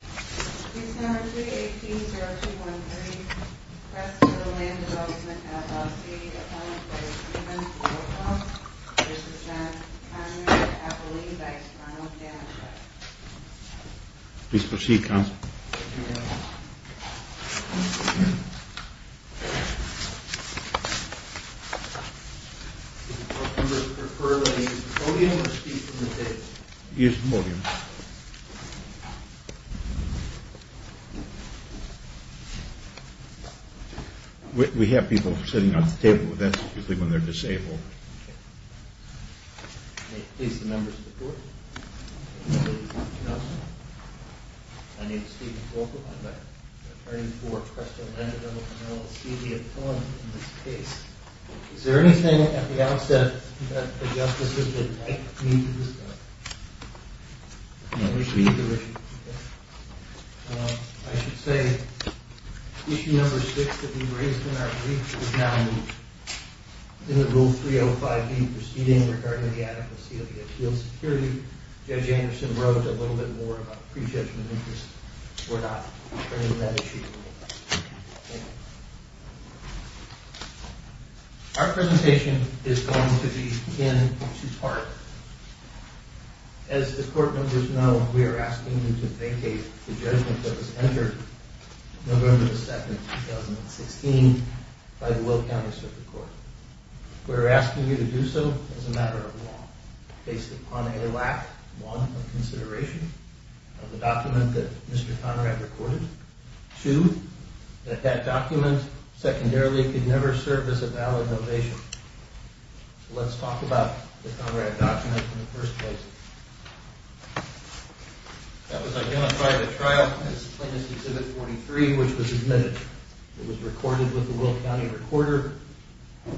Please refer to the podium or speak from the stage. We have people sitting at the table, that's usually when they're disabled. Is there anything at the outset that the justices did not need to discuss? I should say, issue number 6 that we raised in our brief was now moved. In the Rule 305B proceeding regarding the adequacy of the appeals security, Judge Anderson wrote a little bit more about pre-judgment interest. We're not returning that issue. Thank you. Thank you. Our presentation is going to be in two parts. As the court members know, we are asking you to vacate the judgment that was entered November 2, 2016 by the Will County Circuit Court. We're asking you to do so as a matter of law, based upon a lack, one, of consideration of the document that Mr. Conrad recorded. Two, that that document secondarily could never serve as a valid ovation. Let's talk about the Conrad document in the first place. That was identified at trial as plaintiff's exhibit 43, which was admitted. It was recorded with the Will County recorder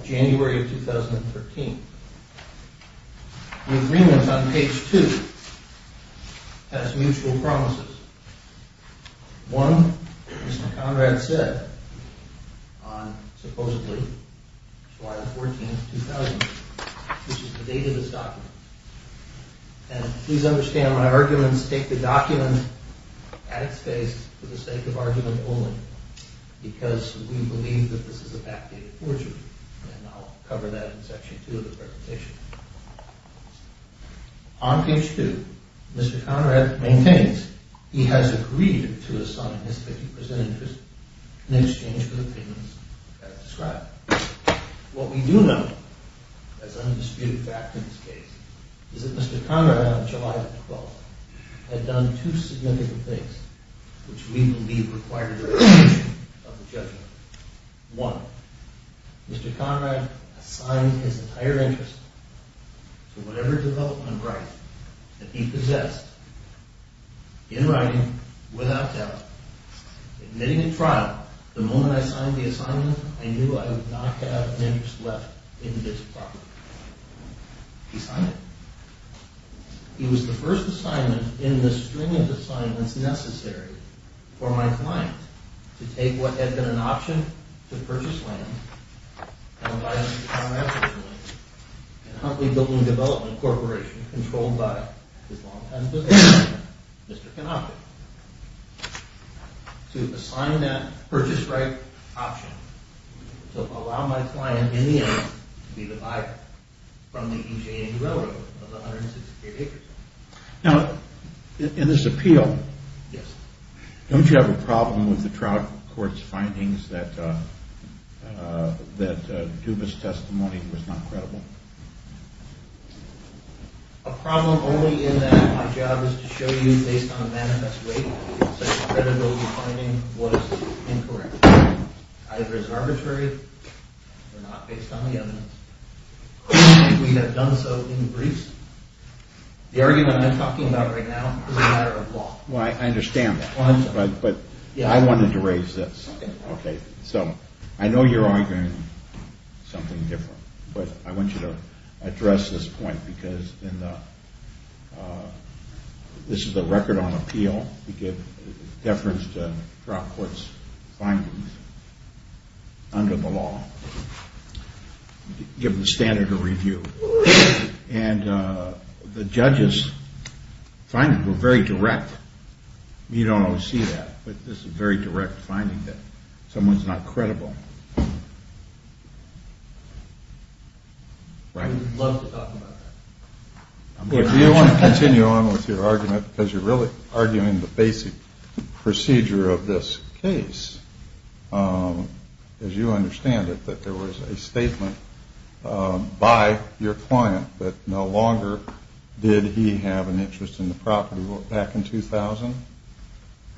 January of 2013. The agreement on page 2 has mutual promises. One, as Mr. Conrad said, on supposedly July 14, 2000, which is the date of this document. And please understand, my arguments take the document at its face for the sake of argument only, because we believe that this is a vacated fortune. And I'll cover that in section 2 of the presentation. On page 2, Mr. Conrad maintains he has agreed to assign his 50% interest in exchange for the payments as described. What we do know, as undisputed fact in this case, is that Mr. Conrad on July 12 had done two significant things, which we believe required a revision of the judgment. One, Mr. Conrad assigned his entire interest to whatever development right that he possessed, in writing, without doubt, admitting at trial, the moment I signed the assignment, I knew I would not have an interest left in this property. He signed it. He was the first assignment in the string of assignments necessary for my client to take what had been an option to purchase land, owned by Mr. Conrad, and Huntley Building Development Corporation, controlled by his longtime business partner, Mr. Canopic, to assign that purchase right option to allow my client, in the end, to be the buyer from the EJ&E Railroad of 168 acres. Now, in this appeal, don't you have a problem with the trial court's findings that Dubas' testimony was not credible? A problem only in that my job is to show you, based on manifest weight, that such credibility finding was incorrect. Either it's arbitrary or not, based on the evidence. We have done so in briefs. The argument I'm talking about right now is a matter of law. Well, I understand that, but I wanted to raise this. Okay, so I know you're arguing something different, but I want you to address this point because this is a record on appeal. We give deference to trial court's findings under the law. We give them standard of review. And the judges' findings were very direct. You don't always see that, but this is a very direct finding that someone's not credible. Right? We'd love to talk about that. Do you want to continue on with your argument because you're really arguing the basic procedure of this case? As you understand it, that there was a statement by your client that no longer did he have an interest in the property back in 2000?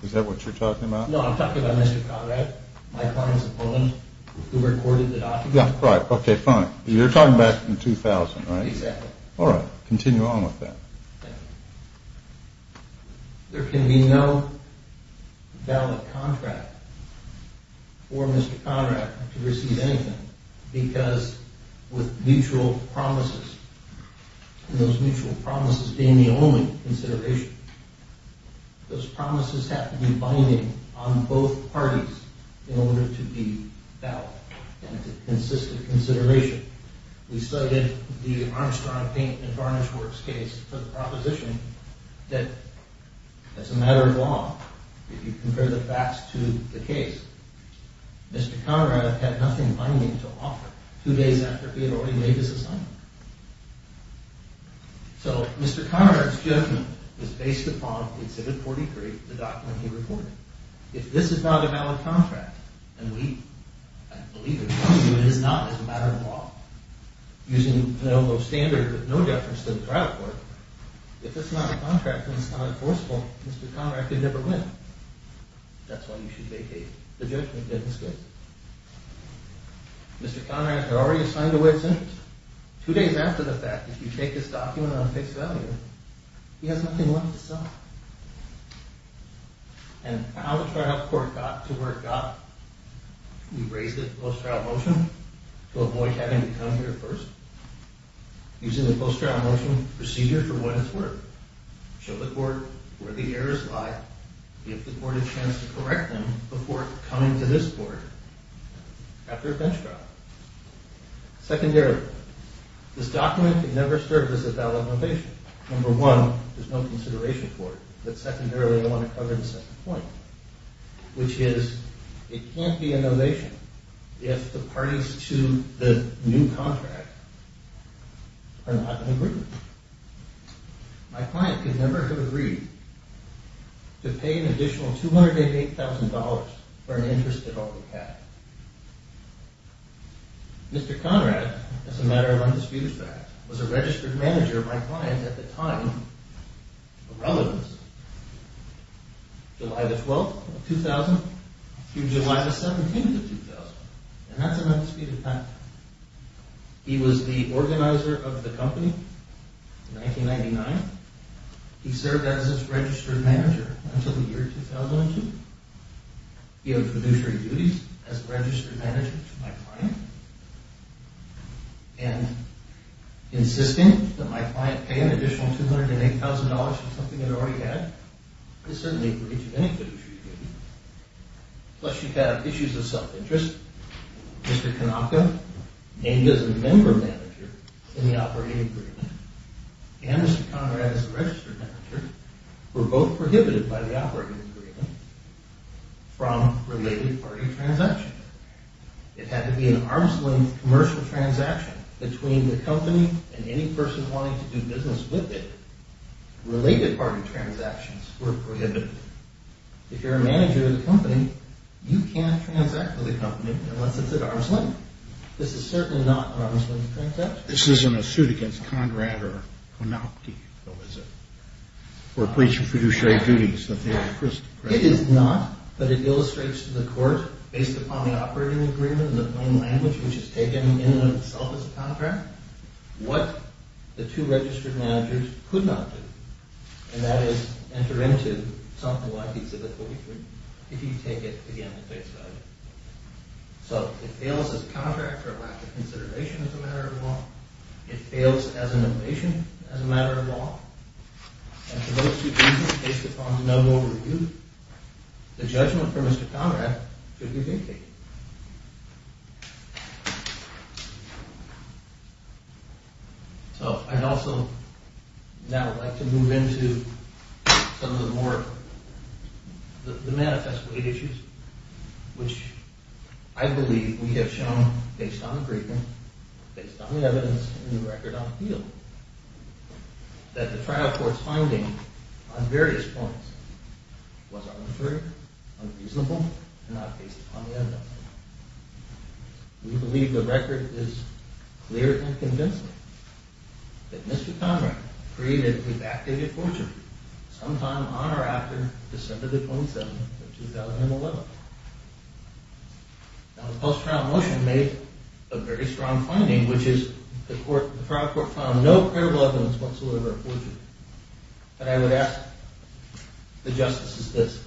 Is that what you're talking about? No, I'm talking about Mr. Conrad, my client's opponent, who recorded the document. Yeah, right, okay, fine. You're talking back in 2000, right? Exactly. All right, continue on with that. There can be no valid contract for Mr. Conrad to receive anything because with mutual promises, and those mutual promises being the only consideration, those promises have to be binding on both parties in order to be valid and to consist of consideration. We studied the Armstrong Paint and Varnish Works case for the proposition that as a matter of law, if you compare the facts to the case, Mr. Conrad had nothing binding to offer two days after he had already made his assignment. So Mr. Conrad's judgment was based upon Exhibit 43, the document he recorded. If this is not a valid contract, and we, I believe in some view it is not as a matter of law, using Penovo standards with no deference to the trial court, if it's not a contract and it's not enforceable, Mr. Conrad could never win. That's why you should vacate the judgment in this case. Mr. Conrad had already assigned a witness. Two days after the fact, if you take this document on fixed value, he has nothing left to sell. And how the trial court got to where it got, we raised it in post-trial motion to avoid having to come here first. Using the post-trial motion procedure for witness work, show the court where the errors lie, give the court a chance to correct them before coming to this court after a bench trial. Secondary, this document could never serve as a valid motivation. Number one, there's no consideration for it, but secondarily I want to cover the second point, which is it can't be a novation if the parties to the new contract are not in agreement. My client could never have agreed to pay an additional $288,000 for an interest they'd already had. Mr. Conrad, as a matter of undisputed fact, was a registered manager of my client at the time of relevance, July the 12th of 2000 through July the 17th of 2000, and that's an undisputed fact. He was the organizer of the company in 1999. He served as its registered manager until the year 2002. He had fiduciary duties as a registered manager to my client, and insisting that my client pay an additional $288,000 for something they'd already had is certainly a breach of any fiduciary duties. Plus you have issues of self-interest. Mr. Kanaka, named as a member manager in the operating agreement, and Mr. Conrad as a registered manager were both prohibited by the operating agreement from related party transactions. It had to be an arm's length commercial transaction between the company and any person wanting to do business with it. Related party transactions were prohibited. If you're a manager of the company, you can't transact with the company unless it's at arm's length. This is certainly not an arm's length transaction. This isn't a suit against Conrad or Konopty, though, is it? Or a breach of fiduciary duties? It is not, but it illustrates to the court, based upon the operating agreement, the plain language which is taken in and of itself as a contract, what the two registered managers could not do, and that is enter into something like the exhibit 43, if you take it again at face value. So, it fails as a contract or a lack of consideration as a matter of law. It fails as an ovation as a matter of law. And for those two reasons, based upon the noble review, the judgment for Mr. Conrad should be vindicated. So, I'd also now like to move into some of the more, the manifest weight issues which I believe we have shown, based on agreement, based on the evidence, and the record on appeal, that the trial court's finding on various points was arbitrary, unreasonable, and not based upon the evidence. We believe the record is clear and convincing that Mr. Conrad created a backdated forgery sometime on or after December the 27th of 2011. Now, the post-trial motion made a very strong finding, which is the trial court found no credible evidence whatsoever of forgery. But I would ask the justices this.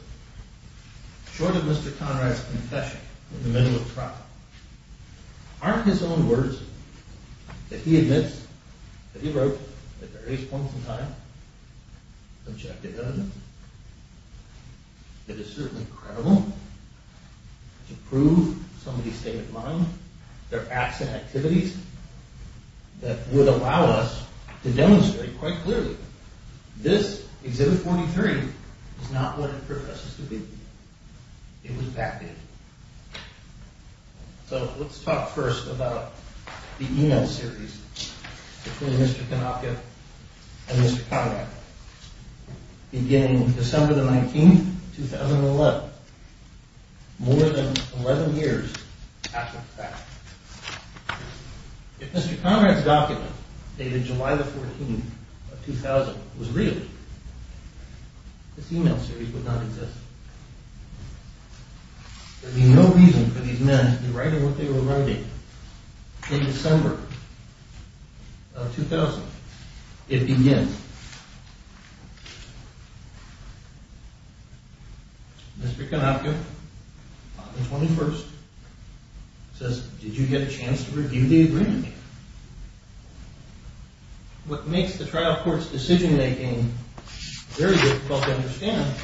Short of Mr. Conrad's confession in the middle of the trial, aren't his own words that he admits, that he wrote at various points in time, objective evidence that is certainly credible to prove somebody's state of mind? There are acts and activities that would allow us to demonstrate quite clearly this Exhibit 43 is not what it professes to be. It was backdated. So let's talk first about the email series between Mr. Kanaka and Mr. Conrad. Beginning December the 19th, 2011, more than 11 years after the fact. If Mr. Conrad's document dated July the 14th of 2000 was real, this email series would not exist. There would be no reason for these men to be writing what they were writing. In December of 2000, it begins. Mr. Kanaka, on the 21st, says, Did you get a chance to review the agreement? What makes the trial court's decision-making very difficult to understand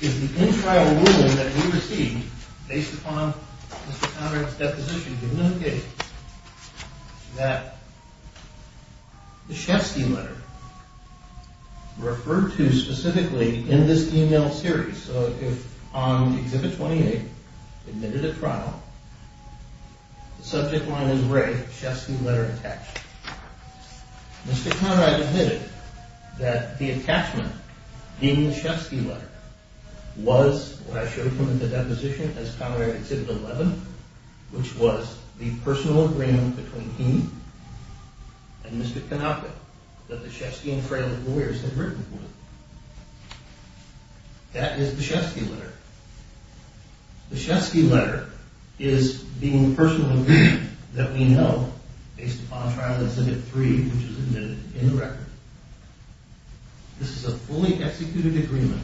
is the in-trial ruling that we received based upon Mr. Conrad's deposition, given the case, that the Shestey letter referred to specifically in this email series. So on Exhibit 28, admitted at trial, the subject line is Ray, Shestey letter attached. Mr. Conrad admitted that the attachment in the Shestey letter was what I showed him in the deposition as Common Area Exhibit 11, which was the personal agreement between him and Mr. Kanaka that the Shestey and Fraley lawyers had written with. That is the Shestey letter. The Shestey letter is the personal agreement that we know, based upon Trial Exhibit 3, which is admitted in the record. This is a fully executed agreement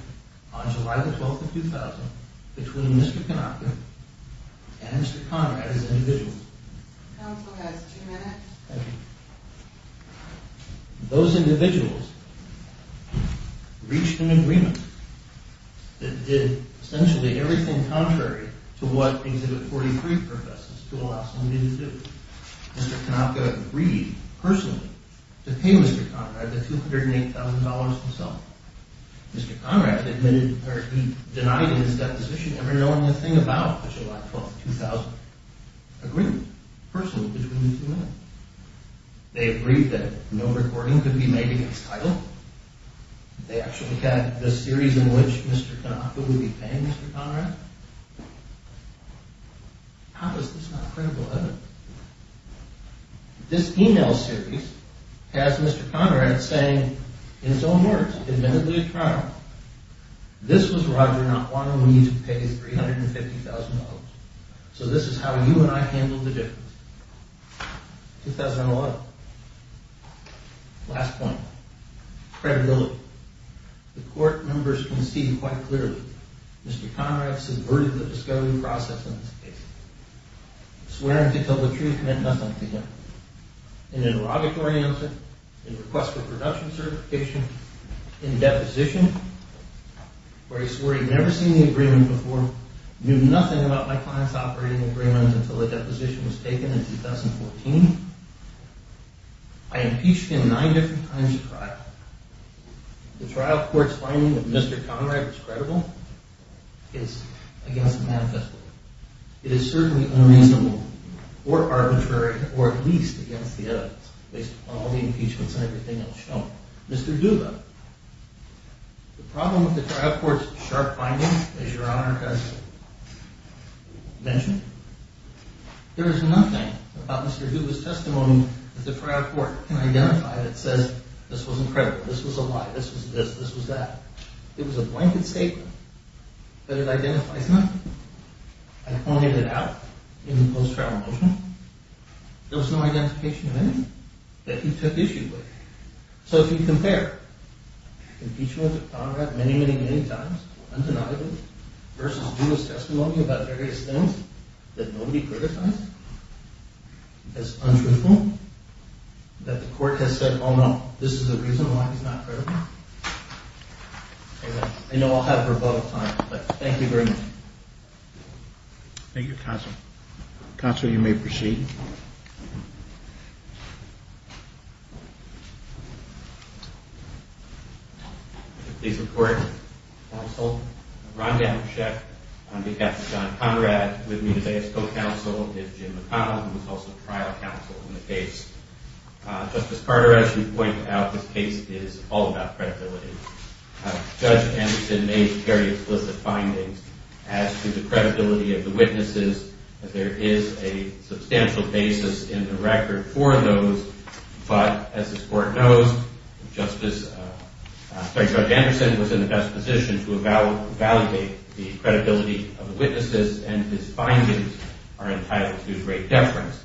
on July 12, 2000, between Mr. Kanaka and Mr. Conrad as individuals. Counsel has two minutes. Thank you. Those individuals reached an agreement that did essentially everything contrary to what Exhibit 43 professes to allow somebody to do. Mr. Kanaka agreed personally to pay Mr. Conrad the $208,000 himself. Mr. Conrad admitted, or he denied in his deposition, ever knowing a thing about the July 12, 2000 agreement, personally between the two men. They agreed that no recording could be made against title. They actually had the series in which Mr. Kanaka would be paying Mr. Conrad. How is this not critical evidence? This email series has Mr. Conrad saying, in his own words, admittedly a trial, this was Roger not wanting me to pay $350,000. So this is how you and I handled the difference. 2011. Last point. Credibility. The court members conceded quite clearly. Mr. Conrad subverted the discovery process in this case, swearing to tell the truth meant nothing to him. In interrogatory answer, in request for production certification, in deposition, where he swore he'd never seen the agreement before, knew nothing about my client's operating agreement until the deposition was taken in 2014, I impeached him nine different times at trial. The trial court's finding that Mr. Conrad was credible is against the manifesto. It is certainly unreasonable, or arbitrary, or at least against the evidence, based on all the impeachments and everything else shown. Mr. Duva, the problem with the trial court's sharp finding as Your Honor has mentioned, there is nothing about Mr. Duva's testimony that the trial court can identify that says this was incredible, this was a lie, this was this, this was that. It was a blanket statement, but it identifies nothing. I pointed it out in the post-trial motion. There was no identification of anything that he took issue with. So if you compare impeachments of Conrad many, many, many times, undeniably, versus Duva's testimony about various things that nobody criticized, as untruthful, that the court has said, oh no, this is the reason why he's not credible, I know I'll have rebuttal time, but thank you very much. Thank you, Counsel. Counsel, you may proceed. If you could please report, Counsel. Ron Danachek, on behalf of John Conrad, with me today as co-counsel is Jim McConnell, who is also trial counsel in the case. Justice Carter, as you pointed out, this case is all about credibility. Judge Anderson may carry explicit findings as to the credibility of the witnesses, that there is a substantial basis in the record for those, but as this court knows, Judge Anderson was in the best position to evaluate the credibility of the witnesses, and his findings are entitled to great deference.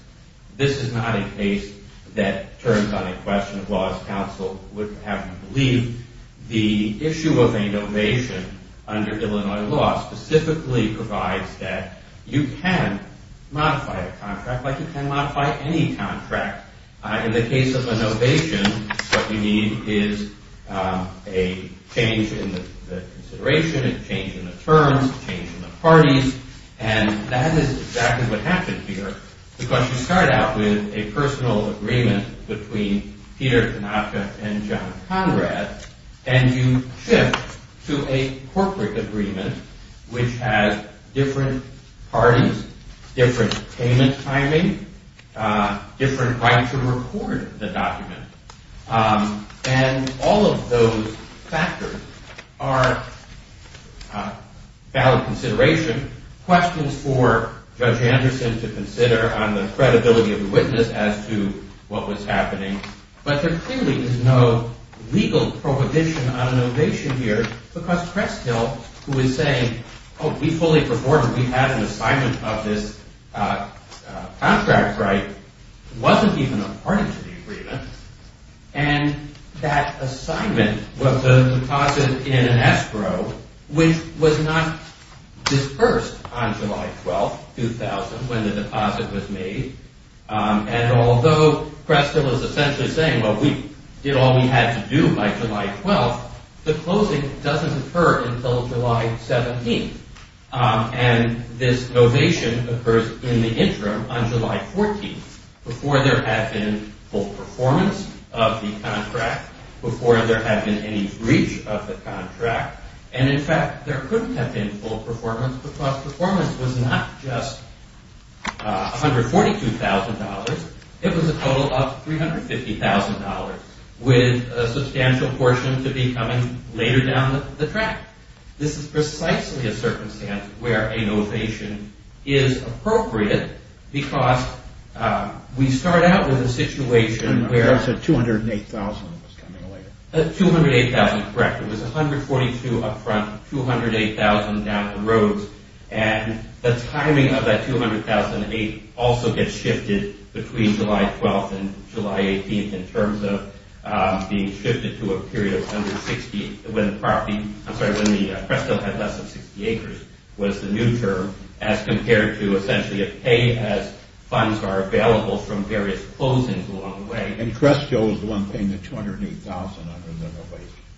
This is not a case that turns on a question of law, as counsel would have me believe. The issue of a novation under Illinois law specifically provides that you can modify a contract like you can modify any contract. In the case of a novation, what you need is a change in the consideration, a change in the terms, a change in the parties, and that is exactly what happened here, because you start out with a personal agreement between Peter Danachek and John Conrad, and you shift to a corporate agreement, which has different parties, different payment timing, different right to record the document, and all of those factors are valid consideration, questions for Judge Anderson to consider on the credibility of the witness as to what was happening, but there clearly is no legal prohibition on a novation here, because Cresthill, who is saying, oh, we fully perform, we have an assignment of this contract right, wasn't even a party to the agreement, and that assignment was a deposit in an escrow, which was not disbursed on July 12, 2000, when the deposit was made, and although Cresthill is essentially saying, well, we did all we had to do by July 12, the closing doesn't occur until July 17, and this novation occurs in the interim on July 14, before there had been full performance of the contract, before there had been any breach of the contract, and in fact, there couldn't have been full performance, because performance was not just $142,000, it was a total of $350,000, with a substantial portion to be coming later down the track. This is precisely a circumstance where a novation is appropriate, because we start out with a situation where... You said 208,000 was coming later. 208,000, correct. It was $142,000 up front, $208,000 down the road, and the timing of that $208,000 also gets shifted between July 12 and July 18, in terms of being shifted to a period of under 60, when the property... I'm sorry, when Cresthill had less than 60 acres, was the new term, as compared to essentially a pay, as funds are available from various closings along the way. And Cresthill was the one paying the $208,000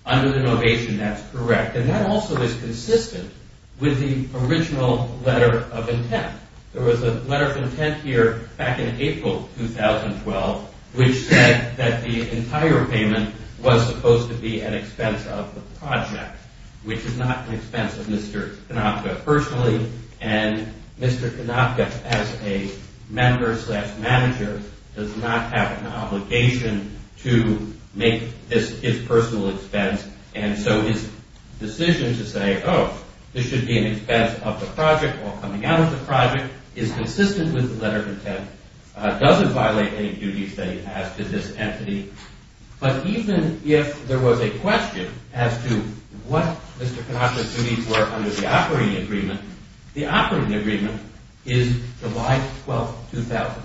under the novation. That's correct. And that also is consistent with the original letter of intent. There was a letter of intent here back in April 2012, which said that the entire payment was supposed to be at expense of the project, which is not an expense of Mr. Konopka personally, and Mr. Konopka, as a member slash manager, does not have an obligation to make this his personal expense, and so his decision to say, oh, this should be an expense of the project, or coming out of the project, is consistent with the letter of intent, doesn't violate any duties that he has to this entity. But even if there was a question as to what Mr. Konopka's duties were under the operating agreement, the operating agreement is July 12, 2000,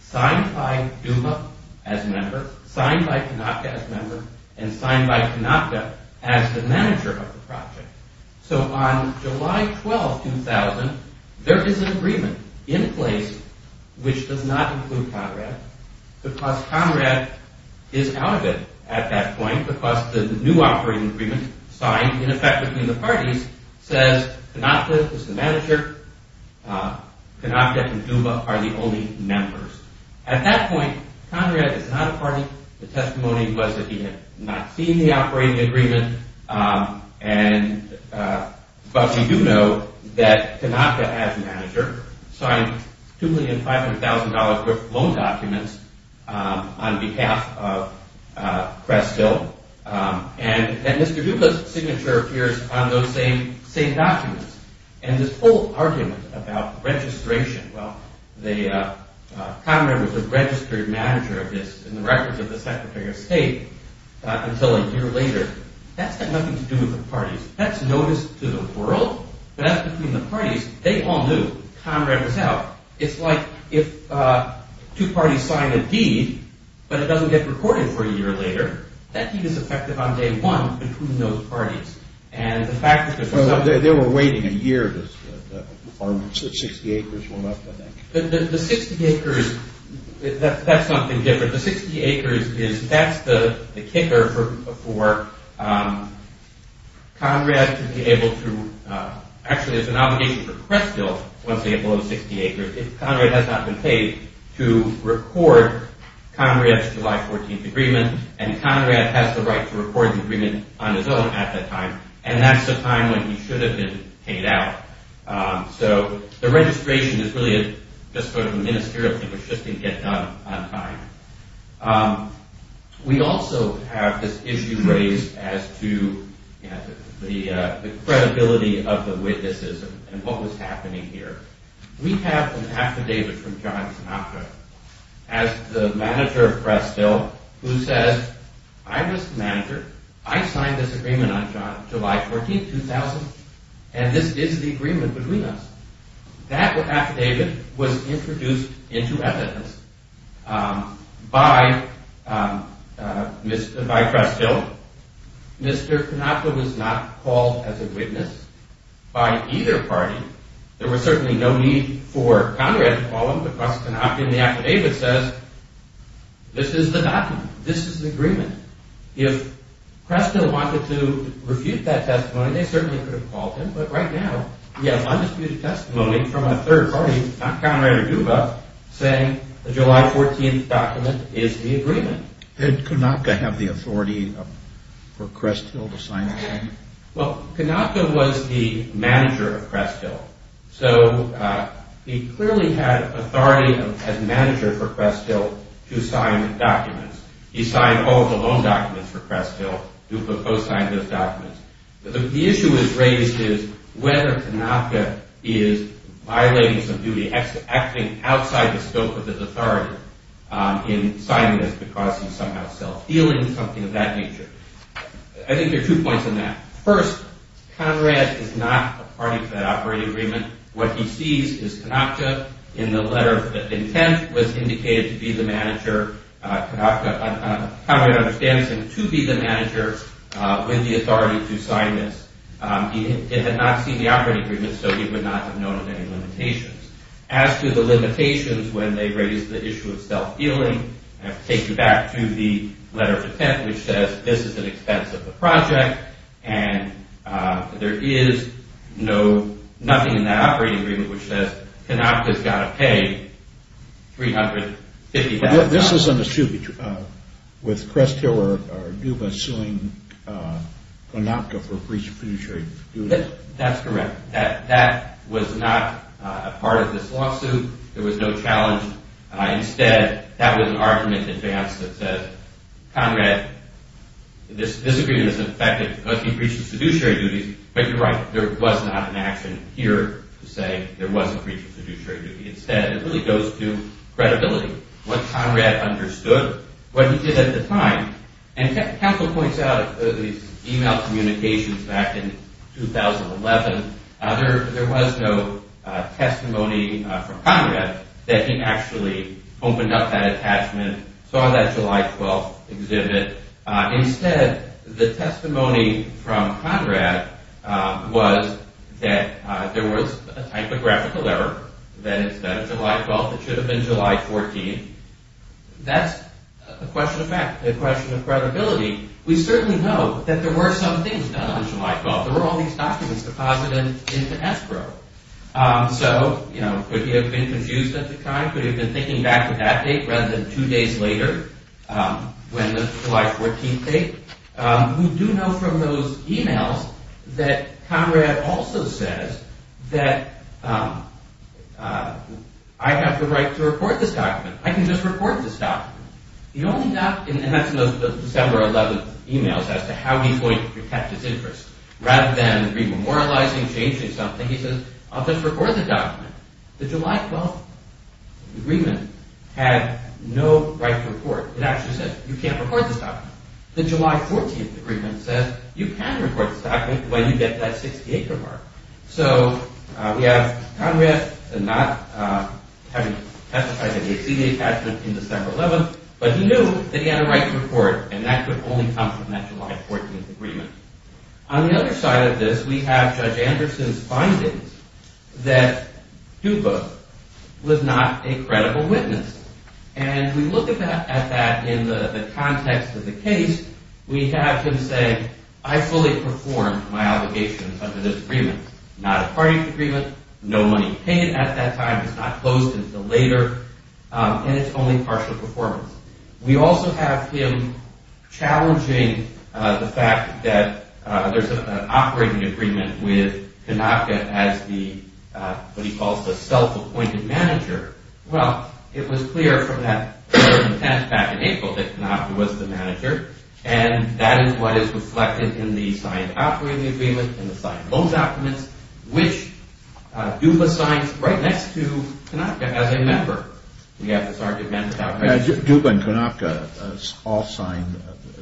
signed by Duba as a member, signed by Konopka as a member, and signed by Konopka as the manager of the project. So on July 12, 2000, there is an agreement in place, which does not include Conrad, because Conrad is out of it at that point, because the new operating agreement, signed in effect between the parties, says Konopka is the manager, Konopka and Duba are the only members. At that point, Conrad is not a party, the testimony was that he had not seen the operating agreement, but we do know that Konopka, as manager, signed $2,500,000 worth of loan documents on behalf of Crestville, and Mr. Duba's signature appears on those same documents. And this whole argument about registration, well, Conrad was a registered manager of this, in the records of the Secretary of State, until a year later, that's got nothing to do with the parties. That's noticed to the world, but that's between the parties. They all knew, Conrad was out. It's like if two parties sign a deed, but it doesn't get recorded for a year later, that deed is effective on day one, between those parties. They were waiting a year, the 60 acres went up, I think. The 60 acres, that's something different. The 60 acres, that's the kicker for Conrad to be able to, actually it's an obligation for Crestville, once they get below 60 acres, Conrad has not been paid to record Conrad's July 14th agreement, and Conrad has the right to record the agreement on his own at that time, and that's the time when he should have been paid out. So the registration is really just sort of a ministerial thing, which just didn't get done on time. We also have this issue raised as to the credibility of the witnesses, and what was happening here. We have an affidavit from John Sinatra, as the manager of Crestville, who says, I was the manager, I signed this agreement on July 14th, 2000, and this is the agreement between us. That affidavit was introduced into evidence by Crestville. Mr. Sinatra was not called as a witness by either party. There was certainly no need for Conrad to call him because Sinatra in the affidavit says, this is the document, this is the agreement. If Crestville wanted to refute that testimony, they certainly could have called him, but right now, we have undisputed testimony from a third party, not Conrad or Duva, saying the July 14th document is the agreement. Did Konopka have the authority for Crestville to sign the agreement? Well, Konopka was the manager of Crestville, so he clearly had authority as manager for Crestville to sign documents. He signed all the loan documents for Crestville. Duva co-signed those documents. The issue that's raised is whether Konopka is violating some duty, acting outside the scope of his authority in signing this because he's somehow self-feeling or something of that nature. I think there are two points in that. First, Conrad is not a party to that operating agreement. What he sees is Konopka in the letter that the intent was indicated to be the manager, Konopka, Konopka understands him to be the manager with the authority to sign this. He had not seen the operating agreement, so he would not have known of any limitations. As to the limitations when they raise the issue of self-feeling, I have to take you back to the letter of intent, which says, this is an expense of the project, and there is nothing in that operating agreement which says Konopka's got to pay $350,000. This is an issue with Crestville or Duva suing Konopka for breach of fiduciary duties. That's correct. That was not a part of this lawsuit. There was no challenge. Instead, that was an argument in advance that says, Conrad, this agreement is effective because he breached the fiduciary duties, but you're right, there was not an action here to say there was a breach of fiduciary duty. Instead, it really goes to credibility. What Conrad understood, what he did at the time, and Council points out these email communications back in 2011, there was no testimony from Conrad that he actually opened up that attachment, saw that July 12th exhibit. Instead, the testimony from Conrad was that there was a typographical error, that instead of July 12th, it should have been July 14th. That's a question of fact, a question of credibility. We certainly know that there were some things done on July 12th. There were all these documents deposited into escrow. So, you know, could he have been confused at the time? Could he have been thinking back to that date rather than two days later when the July 14th date? We do know from those emails that Conrad also says that I have the right to report this document. I can just report this document. And that's in those December 11th emails as to how he's going to protect his interests. Rather than remoralizing, changing something, he says, I'll just report the document. The July 12th agreement had no right to report. It actually said, you can't report this document. The July 14th agreement says, you can report this document when you get that 60 acre mark. So we have Conrad not having testified in the ACA attachment in December 11th, but he knew that he had a right to report. And that could only come from that July 14th agreement. On the other side of this, we have Judge Anderson's findings that Cuba was not a credible witness. And we look at that in the context of the case. We have him say, I fully performed my obligations under this agreement. Not a party agreement. No money paid at that time. It's not closed until later. And it's only partial performance. We also have him challenging the fact that there's an operating agreement with Kanaka as what he calls the self-appointed manager. Well, it was clear from that letter of intent back in April that Kanaka was the manager. And that is what is reflected in the signed operating agreement and the signed loan documents, which Duba signs right next to Kanaka as a member. We have this argument about... Duba and Kanaka all signed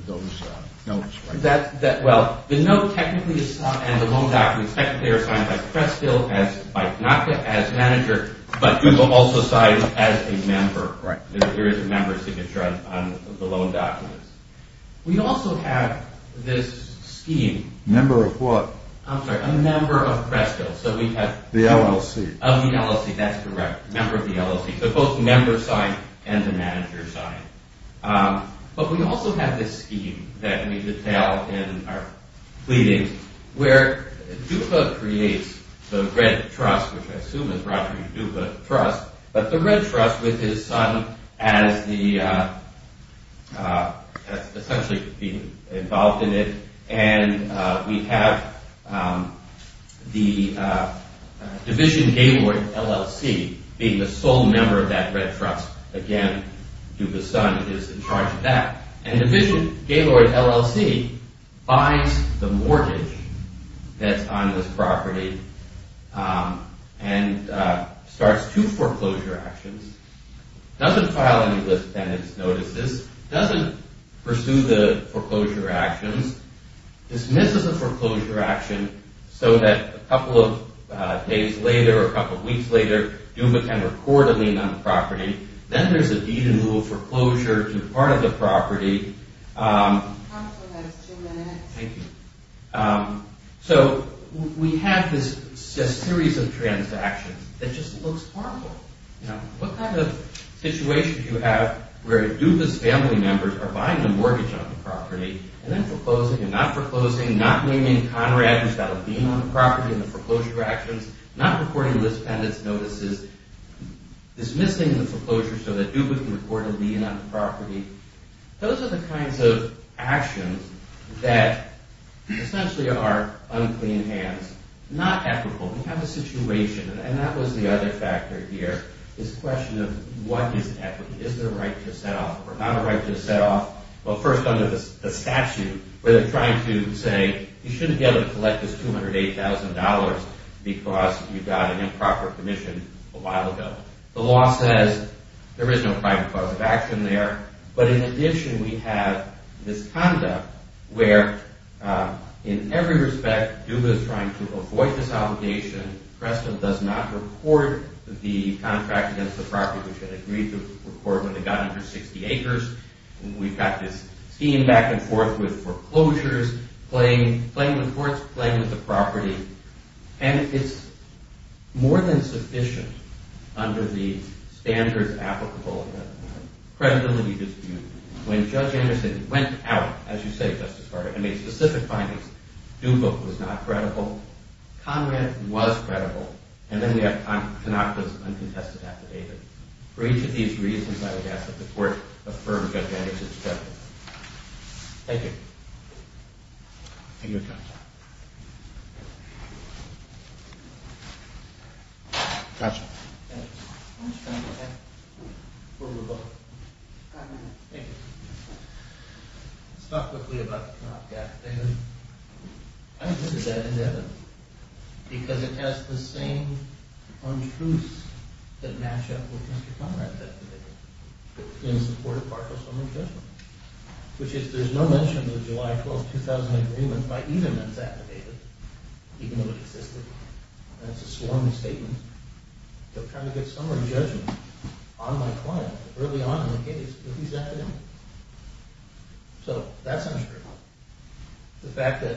those notes, right? Well, the note technically and the loan documents technically are signed by Cresthill, by Kanaka as manager, but Duba also signs as a member. There is a member signature on the loan documents. We also have this scheme. Member of what? I'm sorry, a member of Cresthill. So we have... The LLC. Of the LLC, that's correct. Member of the LLC. So both the member sign and the manager sign. But we also have this scheme that we detail in our pleadings where Duba creates the Red Trust, which I assume is Roger Duba's trust, but the Red Trust with his son as the... essentially being involved in it. And we have the Division Gaylord LLC being the sole member of that Red Trust. Again, Duba's son is in charge of that. And Division Gaylord LLC buys the mortgage that's on this property and starts two foreclosure actions, doesn't file any list tenants notices, doesn't pursue the foreclosure actions, dismisses the foreclosure action so that a couple of days later or a couple of weeks later, Duba can record a lien on the property. Then there's a deed in lieu of foreclosure to part of the property. Counsel, that's two minutes. Thank you. So we have this series of transactions that just looks horrible. What kind of situation do you have where Duba's family members are buying the mortgage on the property and then foreclosing and not foreclosing, not naming Conrad who's got a lien on the property in the foreclosure actions, not recording list tenants notices, dismissing the foreclosure so that Duba can record a lien on the property. Those are the kinds of actions that essentially are unclean hands. Not equitable. We have a situation, and that was the other factor here, this question of what is equitable. Is there a right to set off or not a right to set off? Well, first under the statute where they're trying to say you shouldn't be able to collect this $208,000 because you got an improper commission a while ago. The law says there is no private cause of action there. But in addition we have this conduct where in every respect Duba's trying to avoid this obligation. Preston does not record the contract against the property which it agreed to record when it got under 60 acres. We've got this scheme back and forth with foreclosures playing with the property. And it's more than sufficient under the standards applicable to the credibility dispute. When Judge Anderson went out, as you say, Justice Carter, and made specific findings, Duba was not credible. Conrad was credible. And then we have Tanaka's uncontested affidavit. For each of these reasons I would ask that the court affirm Judge Anderson's credibility. Thank you. Thank you, counsel. Counsel. Thanks. We'll move on. Thank you. Let's talk quickly about the Tanaka affidavit. I look at that affidavit because it has the same untruths that match up with Mr. Conrad's affidavit in support of partial settlement judgment. Which is there's no mention of the July 12, 2000 agreement by either men's affidavit even though it existed. That's a sworn statement. I'm trying to get summary judgment on my client early on in the case with these affidavits. So that's untrue. The fact that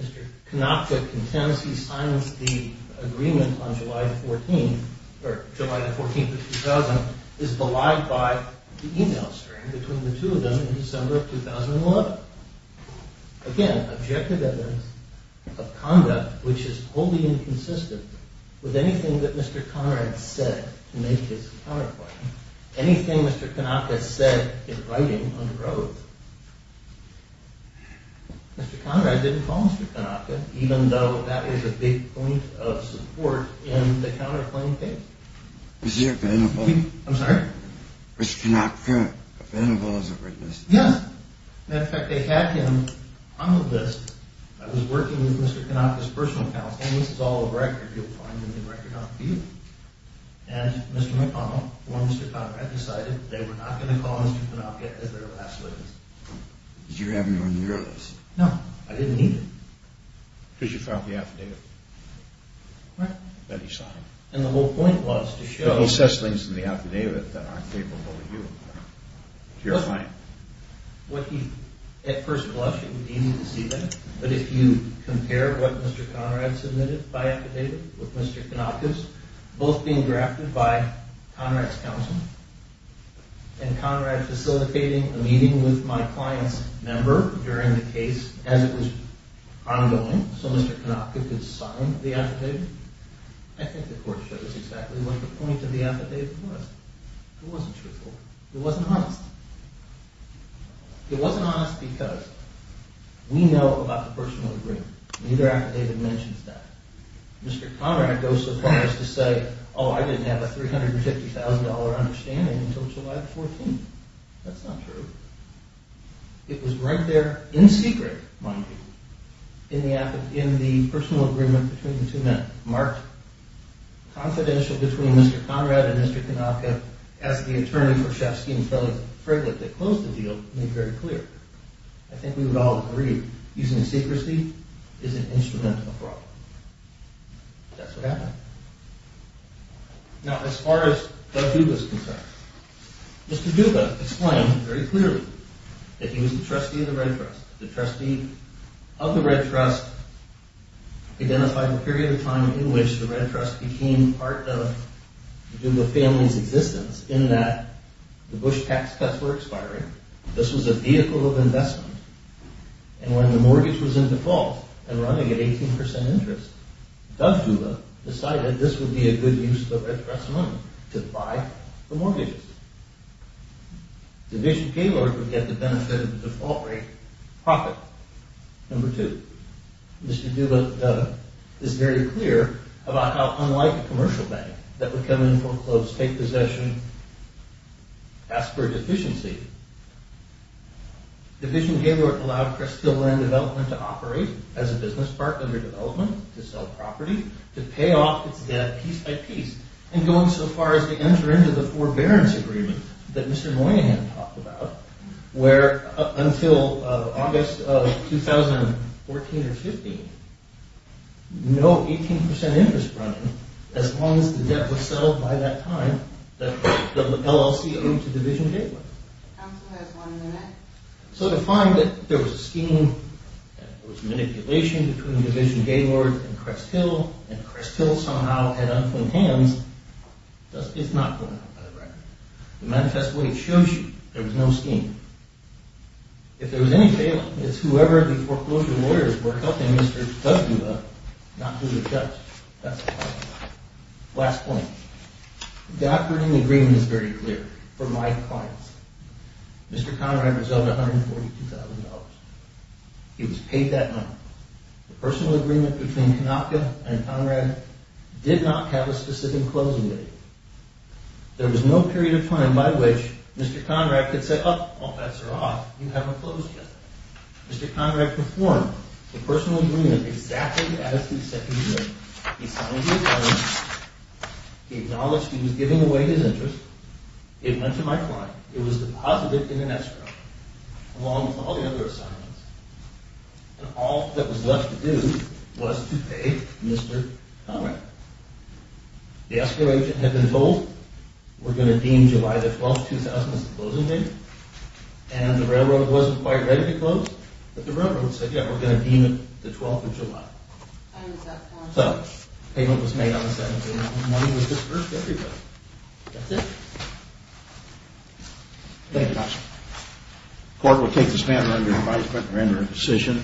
Mr. Konopka contends he silenced the agreement on July 14, 2000 is belied by the email string between the two of them in December of 2011. Again, objective evidence of conduct which is wholly inconsistent with anything that Mr. Konopka said to make his counterclaim. Anything Mr. Konopka said in writing on the road. Mr. Konopka didn't call Mr. Konopka even though that was a big point of support in the counterclaim case. Was he available? I'm sorry? Was Konopka available as a witness? Yes. In fact, they had him on the list. I was working with Mr. Konopka's personal account, and this is all the record you'll find in the record on view. And Mr. McConnell, or Mr. Conrad, decided they were not going to call Mr. Konopka as their last witness. Did you have him on your list? No, I didn't need him. Because you found the affidavit? Right. That he signed. And the whole point was to show... But he says things in the affidavit that aren't capable of you. To your client. At first glance, it would be easy to see that. But if you compare what Mr. Conrad submitted by affidavit with Mr. Konopka's, both being drafted by Conrad's counsel, and Conrad facilitating a meeting with my client's member during the case as it was ongoing, so Mr. Konopka could sign the affidavit, I think the court shows exactly what the point of the affidavit was. It wasn't truthful. It wasn't honest. It wasn't honest because we know about the personal agreement. Neither affidavit mentions that. Mr. Conrad goes so far as to say, oh, I didn't have a $350,000 understanding until July 14th. That's not true. It was right there, in secret, mind you, in the personal agreement between the two men, marked confidential between Mr. Conrad and Mr. Konopka as the attorney for Shafsky and Frelick that closed the deal made very clear. I think we would all agree using secrecy is an instrumental problem. That's what happened. Now, as far as Doug Duga is concerned, Mr. Duga explained very clearly that he was the trustee of the Red Trust. The trustee of the Red Trust identified the period of time in which the Red Trust became part of the Duga family's existence in that the Bush tax cuts were expiring, this was a vehicle of investment, and when the mortgage was in default and running at 18% interest, Doug Duga decided this would be a good use of the Red Trust money to buy the mortgages. Division Paylord would get the benefit of the default rate profit, number two. Mr. Duga is very clear about how, like a commercial bank, that would come in, foreclose, take possession, ask for a deficiency. Division Paylord allowed Crest Hill Land Development to operate as a business part under development, to sell property, to pay off its debt piece by piece, and going so far as to enter into the forbearance agreement that Mr. Moynihan talked about, where until August of 2014 or 15, no 18% interest running as long as the debt was settled by that time that the LLC owed to Division Paylord. The council has one minute. So to find that there was a scheme, there was manipulation between Division Paylord and Crest Hill, and Crest Hill somehow had unclogged hands, it's not going to happen by the record. The manifest way it shows you there was no scheme. If there was any failing, it's whoever the foreclosure lawyers were helping Mr. W. up, not who the judge. That's a lie. Last point. The operating agreement is very clear. For my clients. Mr. Conrad was owed $142,000. He was paid that money. The personal agreement between Konopka and Conrad did not have a specific closing date. There was no period of time by which Mr. Conrad could say, oh, all bets are off, you haven't closed yet. Mr. Conrad performed the personal agreement exactly as he said he would. He signed the agreement, he acknowledged he was giving away his interest, it went to my client, it was deposited in an escrow, along with all the other assignments, and all that was left to do was to pay Mr. Conrad. The escrow agent had been told, we're going to deem July 12, 2000 as the closing date, and the railroad wasn't quite ready to close, but the railroad said, yeah, we're going to deem it the 12th of July. So, payment was made on the 17th, and the money was disbursed to everybody. That's it. Thank you very much. The court will take this matter under advisement and render it a decision.